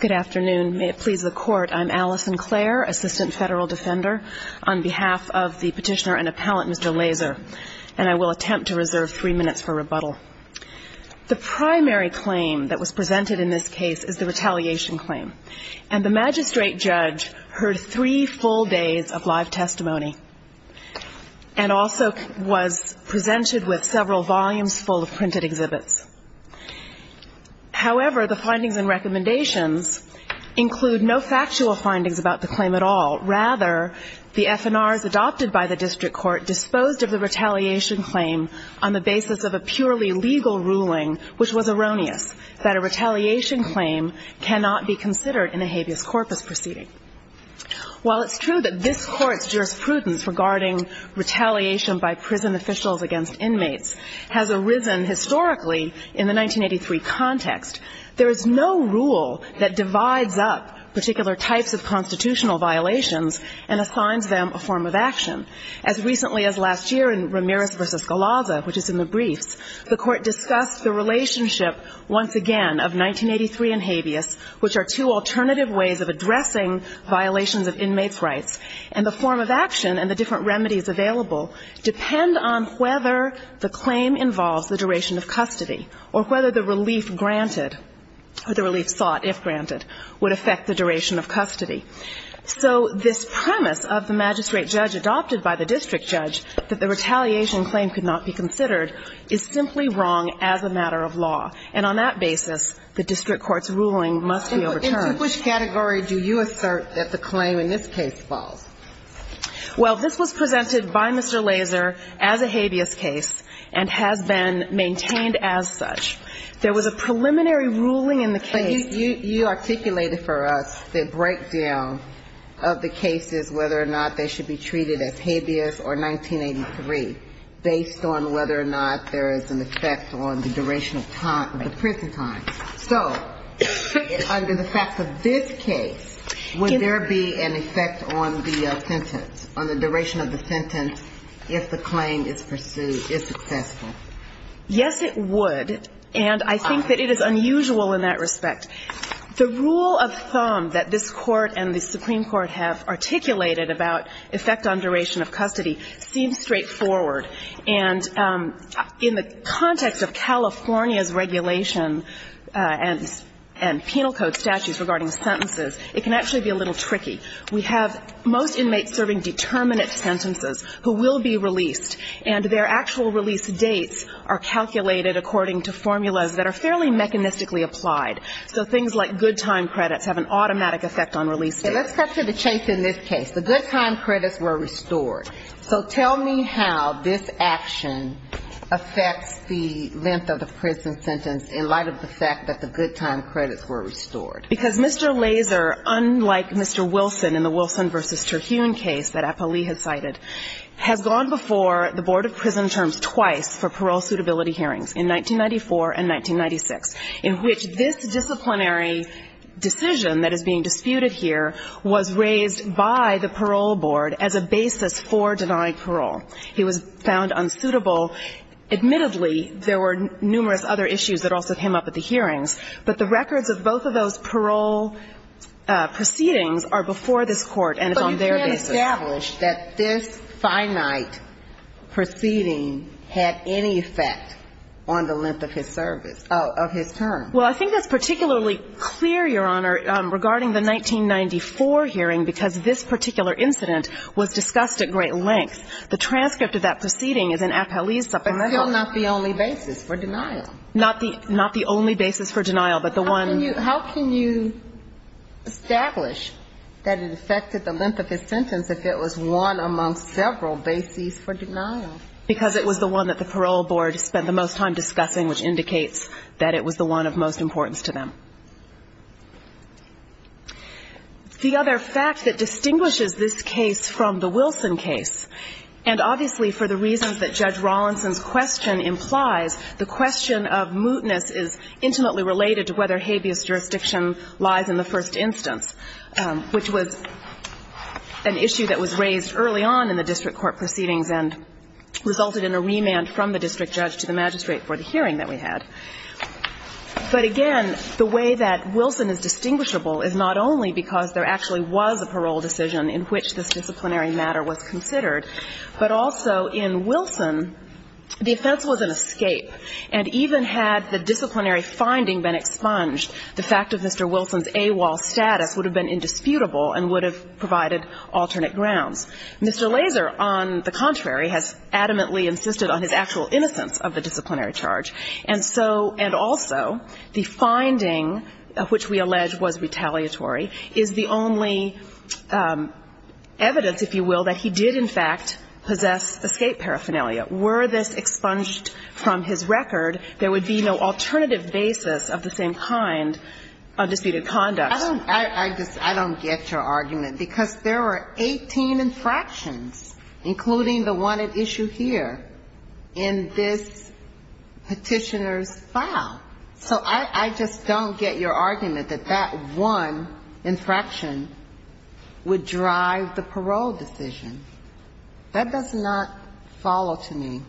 Good afternoon. May it please the court, I'm Allison Clare, Assistant Federal Defender, on behalf of the petitioner and appellant, Mr. Lazor, and I will attempt to reserve three minutes for rebuttal. The primary claim that was presented in this case is the retaliation claim, and the magistrate judge heard three full days of live testimony and also was presented with several volumes full of printed exhibits. However, the findings and recommendations include no factual findings about the claim at all. Rather, the FNRs adopted by the district court disposed of the retaliation claim on the basis of a purely legal ruling which was erroneous, that a retaliation claim cannot be considered in a habeas corpus proceeding. While it's true that this court's jurisprudence regarding retaliation by prison officials against inmates has arisen historically in the 1983 context, there is no rule that divides up particular types of constitutional violations and assigns them a form of action. As recently as last year in Ramirez v. Galazza, which is in the briefs, the Court discussed the relationship, once again, of 1983 and habeas, which are two alternative ways of addressing violations of inmates' rights. And the form of action and the different remedies available depend on whether the claim involves the duration of custody or whether the relief granted or the relief sought if granted would affect the duration of custody. So this premise of the magistrate judge adopted by the district judge that the retaliation claim could not be considered is simply wrong as a matter of law. And on that basis, the district court's ruling must be overturned. In which category do you assert that the claim in this case falls? Well, this was presented by Mr. Laser as a habeas case and has been maintained as such. There was a preliminary ruling in the case. But you articulated for us the breakdown of the cases, whether or not they should be treated as habeas or 1983, based on whether or not there is an effect on the duration of time, the prison time. So under the facts of this case, would there be an effect on the sentence, on the duration of the sentence, if the claim is pursued, is successful? Yes, it would. And I think that it is unusual in that respect. The rule of thumb that this Court and the Supreme Court have articulated about effect on duration of custody seems straightforward. And in the context of California's regulation and penal code statutes regarding sentences, it can actually be a little tricky. We have most inmates serving determinate sentences who will be released. And their actual release dates are calculated according to formulas that are fairly mechanistically applied. So things like good time credits have an automatic effect on release dates. Let's cut to the chase in this case. The good time credits were restored. So tell me how this action affects the length of the prison sentence in light of the fact that the good time credits were restored. Because Mr. Lazor, unlike Mr. Wilson in the Wilson v. Terhune case that Apolli had cited, has gone before the Board of Prison Terms twice for parole suitability hearings, in 1994 and 1996, in which this disciplinary decision that is being disputed here was raised by the parole board as a basis for denied parole. He was found unsuitable. Admittedly, there were numerous other issues that also came up at the hearings. But the records of both of those parole proceedings are before this Court and on their basis. But you can't establish that this finite proceeding had any effect on the length of his service, of his term. Well, I think that's particularly clear, Your Honor, regarding the 1994 hearing, because this particular incident was discussed at great length. The transcript of that proceeding is in Apolli's supplement. But still not the only basis for denial. Not the only basis for denial, but the one — How can you establish that it affected the length of his sentence if it was one amongst several bases for denial? Because it was the one that the parole board spent the most time discussing, which indicates that it was the one of most importance to them. The other fact that distinguishes this case from the Wilson case, and obviously for the reasons that Judge Rawlinson's question implies, the question of mootness is intimately related to whether habeas jurisdiction lies in the first instance, which was an issue that was raised early on in the district court proceedings and resulted in a remand from the district judge to the magistrate for the hearing that we had. But, again, the way that Wilson is distinguishable is not only because there actually was a parole decision in which this disciplinary matter was considered, but also in Wilson the offense was an escape. And even had the disciplinary finding been expunged, the fact of Mr. Wilson's AWOL status would have been indisputable and would have provided alternate grounds. Mr. Laser, on the contrary, has adamantly insisted on his actual innocence of the disciplinary charge. And also, the finding, which we allege was retaliatory, is the only evidence, if you will, that he did, in fact, possess escape paraphernalia. Were this expunged from his record, there would be no alternative basis of the same kind of disputed conduct. I don't get your argument, because there were 18 infractions, including the one at issue here, in this particular case. The petitioner's file. So I just don't get your argument that that one infraction would drive the parole decision. That does not follow to me.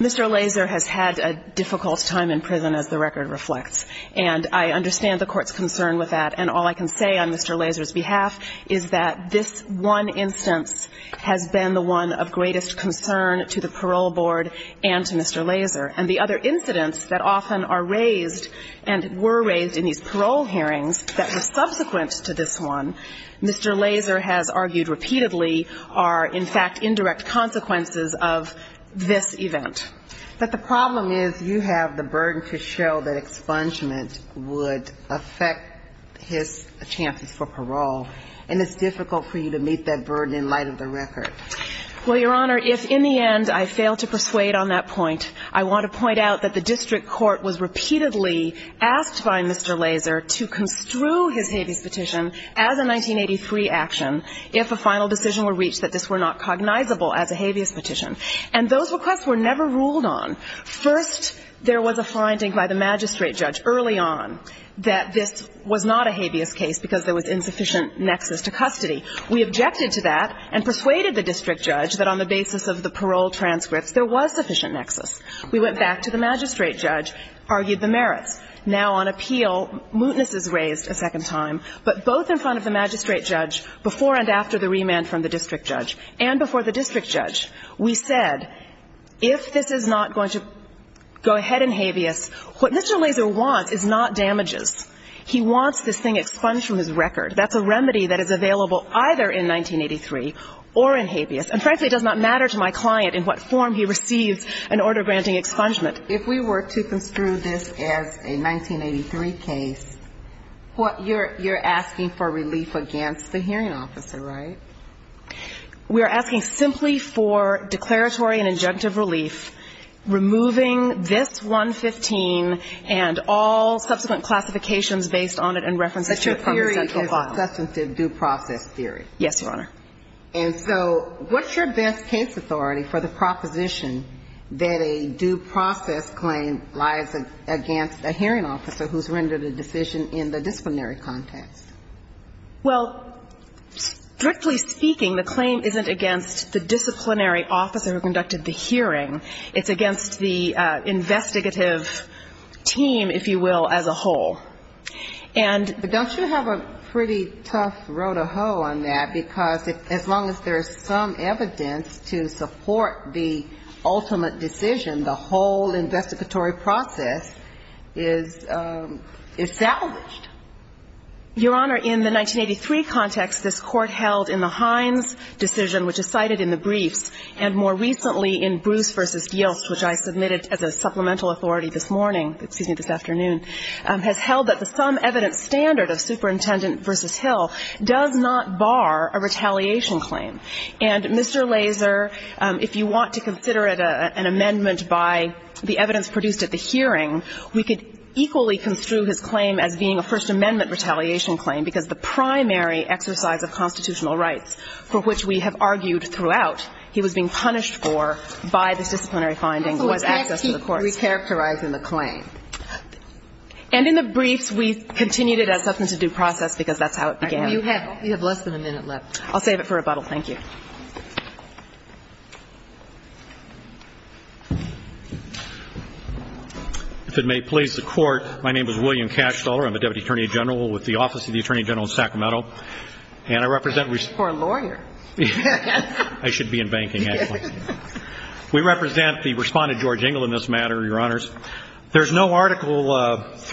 Mr. Laser has had a difficult time in prison, as the record reflects. And I understand the Court's concern with that. And all I can say on Mr. Laser's behalf is that this one instance has been the one of greatest concern to the parole board and to Mr. Laser. And the other incidents that often are raised and were raised in these parole hearings that were subsequent to this one, Mr. Laser has argued repeatedly are, in fact, indirect consequences of this event. But the problem is you have the burden to show that expungement would affect his chances for parole. And it's difficult for you to meet that burden in light of the record. Well, Your Honor, if in the end I fail to persuade on that point, I want to point out that the district court was repeatedly asked by Mr. Laser to construe his habeas petition as a 1983 action, if a final decision were reached that this were not cognizable as a habeas petition. And those requests were never ruled on. First, there was a finding by the magistrate judge early on that this was not a habeas case because there was insufficient nexus to custody. We objected to that and persuaded the district judge that on the basis of the parole transcripts, there was sufficient nexus. We went back to the magistrate judge, argued the merits. Now, on appeal, mootness is raised a second time, but both in front of the magistrate judge before and after the remand from the district judge and before the district judge, we said if this is not going to go ahead in habeas, what Mr. Laser wants is not damages. He wants this thing expunged from his record. That's a remedy that is available either in 1983 or in habeas. And, frankly, it does not matter to my client in what form he receives an order granting expungement. If we were to construe this as a 1983 case, what you're asking for relief against the hearing officer, right? We are asking simply for declaratory and injunctive relief, removing this 115 and all subsequent classifications based on it and references to it from the central box. And we are asking for a clear and substantive due process theory. Yes, Your Honor. And so what's your best case authority for the proposition that a due process claim lies against a hearing officer who's rendered a decision in the disciplinary context? Well, strictly speaking, the claim isn't against the disciplinary officer who conducted the hearing. It's against the investigative team, if you will, as a whole. And the ultimate decision, the whole investigatory process is salvaged. Your Honor, in the 1983 context, this Court held in the Hines decision, which is cited in the briefs, and more recently in Bruce v. Yilts, which I submitted as a supplemental authority this morning, excuse me, this afternoon, has held that the sum evidence standard of Superintendent v. Hill does not bar a retaliation claim. And Mr. Laser, if you want to consider it an amendment by the evidence produced at the hearing, we could equally construe his claim as being a First Amendment retaliation claim, because the primary exercise of constitutional rights for which we have argued throughout, he was being punished for by this disciplinary finding was access to the courts. So it's as he's recharacterizing the claim. And in the briefs, we continued it as something to do process, because that's how it began. You have less than a minute left. I'll save it for rebuttal. Thank you. If it may please the Court, my name is William Cashstaller. I'm the Deputy Attorney General with the Office of the Attorney General in Sacramento. And I represent the Supreme Court. I'm a lawyer. I should be in banking, actually. We represent the respondent, George Engel, in this matter, Your Honors. There's no Article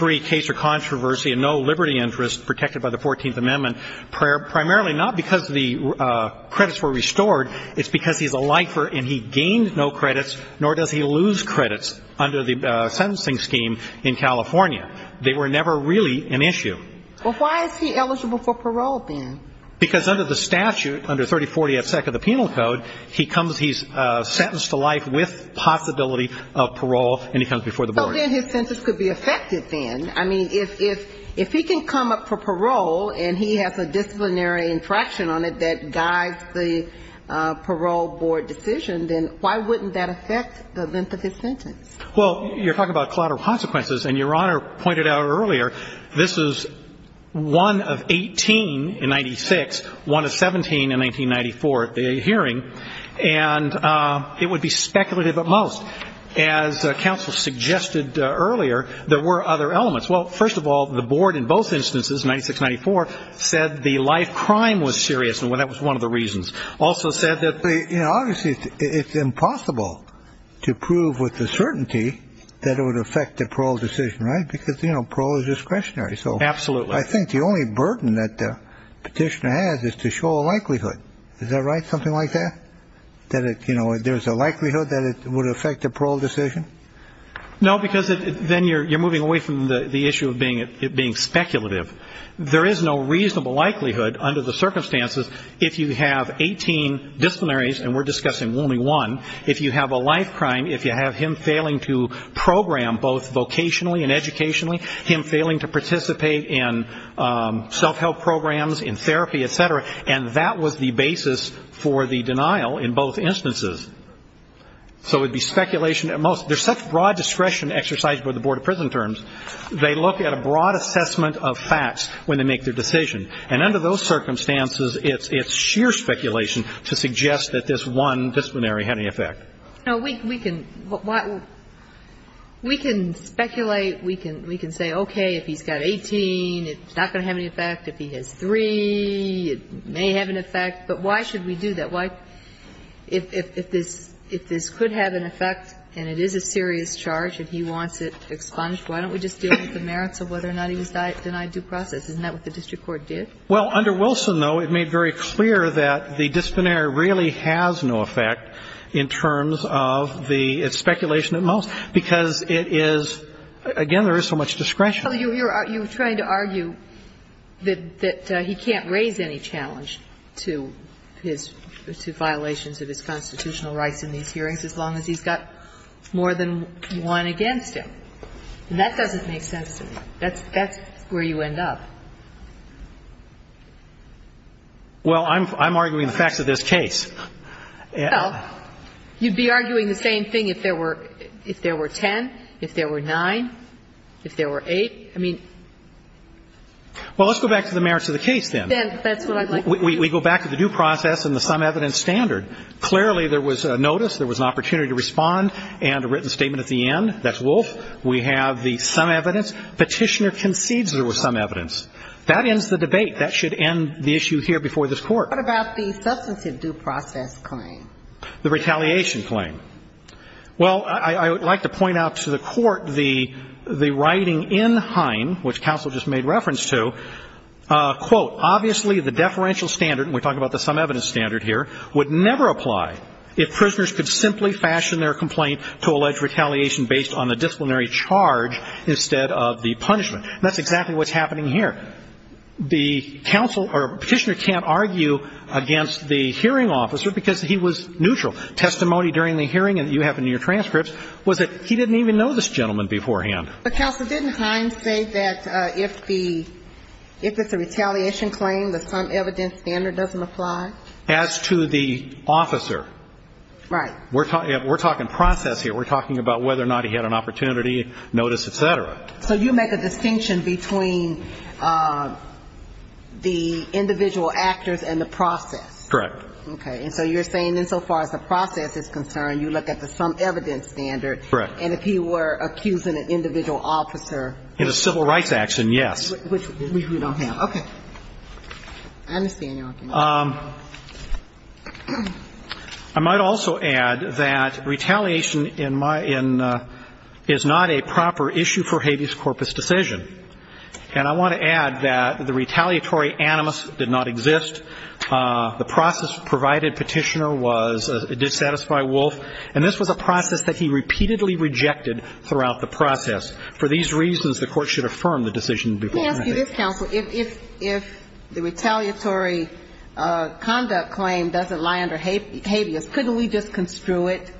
III case or controversy and no liberty interest protected by the Fourteenth Amendment, primarily not because the credits were restored. It's because he's a lifer and he gained no credits, nor does he lose credits under the sentencing scheme in California. They were never really an issue. Well, why is he eligible for parole, then? Because under the statute, under 3040S of the Penal Code, he's sentenced to life with possibility of parole and he comes before the board. So then his sentence could be affected, then. I mean, if he can come up for parole and he has a disciplinary infraction on it that guides the parole board decision, then why wouldn't that affect the length of his sentence? Well, you're talking about collateral consequences. And Your Honor pointed out earlier, this is one of 18 in 96, one of 17 in 1994 at the hearing, and it would be speculative at most. As counsel suggested earlier, there were other elements. Well, first of all, the board in both instances, 96-94, said the life crime was serious and that was one of the reasons. Also said that the ---- Absolutely. I think the only burden that the petitioner has is to show a likelihood. Is that right, something like that? That there's a likelihood that it would affect the parole decision? No, because then you're moving away from the issue of it being speculative. There is no reasonable likelihood under the circumstances if you have 18 disciplinaries, and we're discussing only one, if you have a life crime, if you have him failing to participate in self-help programs, in therapy, et cetera, and that was the basis for the denial in both instances. So it would be speculation at most. There's such broad discretion exercised by the Board of Prison Terms. They look at a broad assessment of facts when they make their decision. And under those circumstances, it's sheer speculation to suggest that this one disciplinary had any effect. No, we can speculate. We can say, okay, if he's got 18, it's not going to have any effect. If he has three, it may have an effect. But why should we do that? If this could have an effect and it is a serious charge and he wants it expunged, why don't we just deal with the merits of whether or not he was denied due process? Isn't that what the district court did? Well, under Wilson, though, it made very clear that the disciplinary really has no effect in terms of the speculation at most because it is, again, there is so much discretion. Well, you're trying to argue that he can't raise any challenge to his violations of his constitutional rights in these hearings as long as he's got more than one against him. And that doesn't make sense to me. That's where you end up. Well, I'm arguing the facts of this case. Well, you'd be arguing the same thing if there were 10, if there were 9, if there were 8. I mean ---- Well, let's go back to the merits of the case then. Then that's what I'd like to do. We go back to the due process and the sum evidence standard. Clearly, there was a notice, there was an opportunity to respond, and a written statement at the end. That's Wolf. We have the sum evidence. Petitioner concedes there was sum evidence. That ends the debate. That should end the issue here before this Court. What about the substantive due process claim? The retaliation claim. Well, I would like to point out to the Court the writing in Hine, which counsel just made reference to, quote, Obviously, the deferential standard, and we're talking about the sum evidence standard here, would never apply if prisoners could simply fashion their complaint to allege retaliation based on the disciplinary charge instead of the punishment. That's exactly what's happening here. The counsel or Petitioner can't argue against the hearing officer because he was neutral. Testimony during the hearing, and you have in your transcripts, was that he didn't even know this gentleman beforehand. But counsel, didn't Hine say that if the, if it's a retaliation claim, the sum evidence standard doesn't apply? As to the officer. Right. We're talking process here. We're talking about whether or not he had an opportunity, notice, et cetera. So you make a distinction between the individual actors and the process. Correct. Okay. And so you're saying insofar as the process is concerned, you look at the sum evidence standard. Correct. And if he were accusing an individual officer. In a civil rights action, yes. Which we don't have. Okay. I understand your argument. I might also add that retaliation in my, in, is not a proper issue for habeas corpus decision. And I want to add that the retaliatory animus did not exist. The process provided Petitioner was, it did satisfy Wolf. And this was a process that he repeatedly rejected throughout the process. For these reasons, the court should affirm the decision beforehand. Let me ask you this, counsel. If the retaliatory conduct claim doesn't lie under habeas, couldn't we just construe it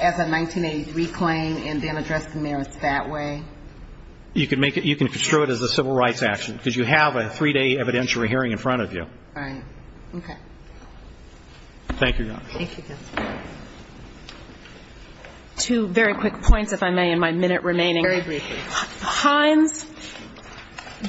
as a 1983 claim and then address the merits that way? You can make it, you can construe it as a civil rights action. Because you have a three-day evidentiary hearing in front of you. Right. Okay. Thank you, Your Honor. Thank you, counsel. Two very quick points, if I may, in my minute remaining. Very briefly. Hines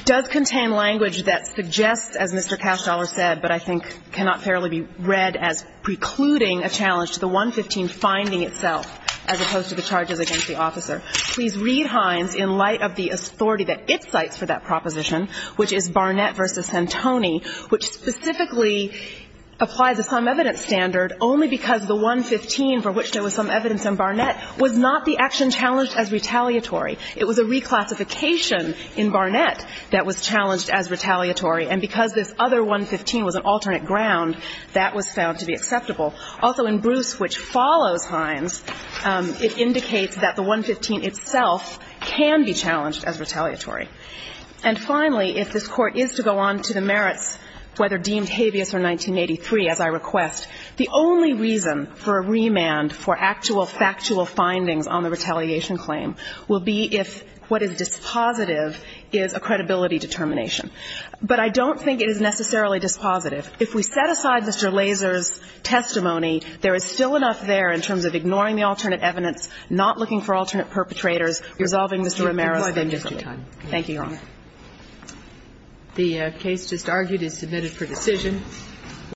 does contain language that suggests, as Mr. Castellar said, but I think cannot fairly be read as precluding a challenge to the 115 finding itself, as opposed to the charges against the officer. Please read Hines in light of the authority that it cites for that proposition, which is Barnett v. Santoni, which specifically applies a sum evidence standard only because the 115 for which there was sum evidence on Barnett was not the action challenged as retaliatory. It was a reclassification in Barnett that was challenged as retaliatory, and because this other 115 was an alternate ground, that was found to be acceptable. Also, in Bruce, which follows Hines, it indicates that the 115 itself can be challenged as retaliatory. And finally, if this Court is to go on to the merits, whether deemed habeas or 1983, as I request, the only reason for a remand for actual factual findings on the retaliation claim will be if what is dispositive is a credibility determination. But I don't think it is necessarily dispositive. If we set aside Mr. Lazer's testimony, there is still enough there in terms of ignoring the alternate evidence, not looking for alternate perpetrators, resolving Mr. Romero's charges. Thank you, Your Honor. The case just argued is submitted for decision.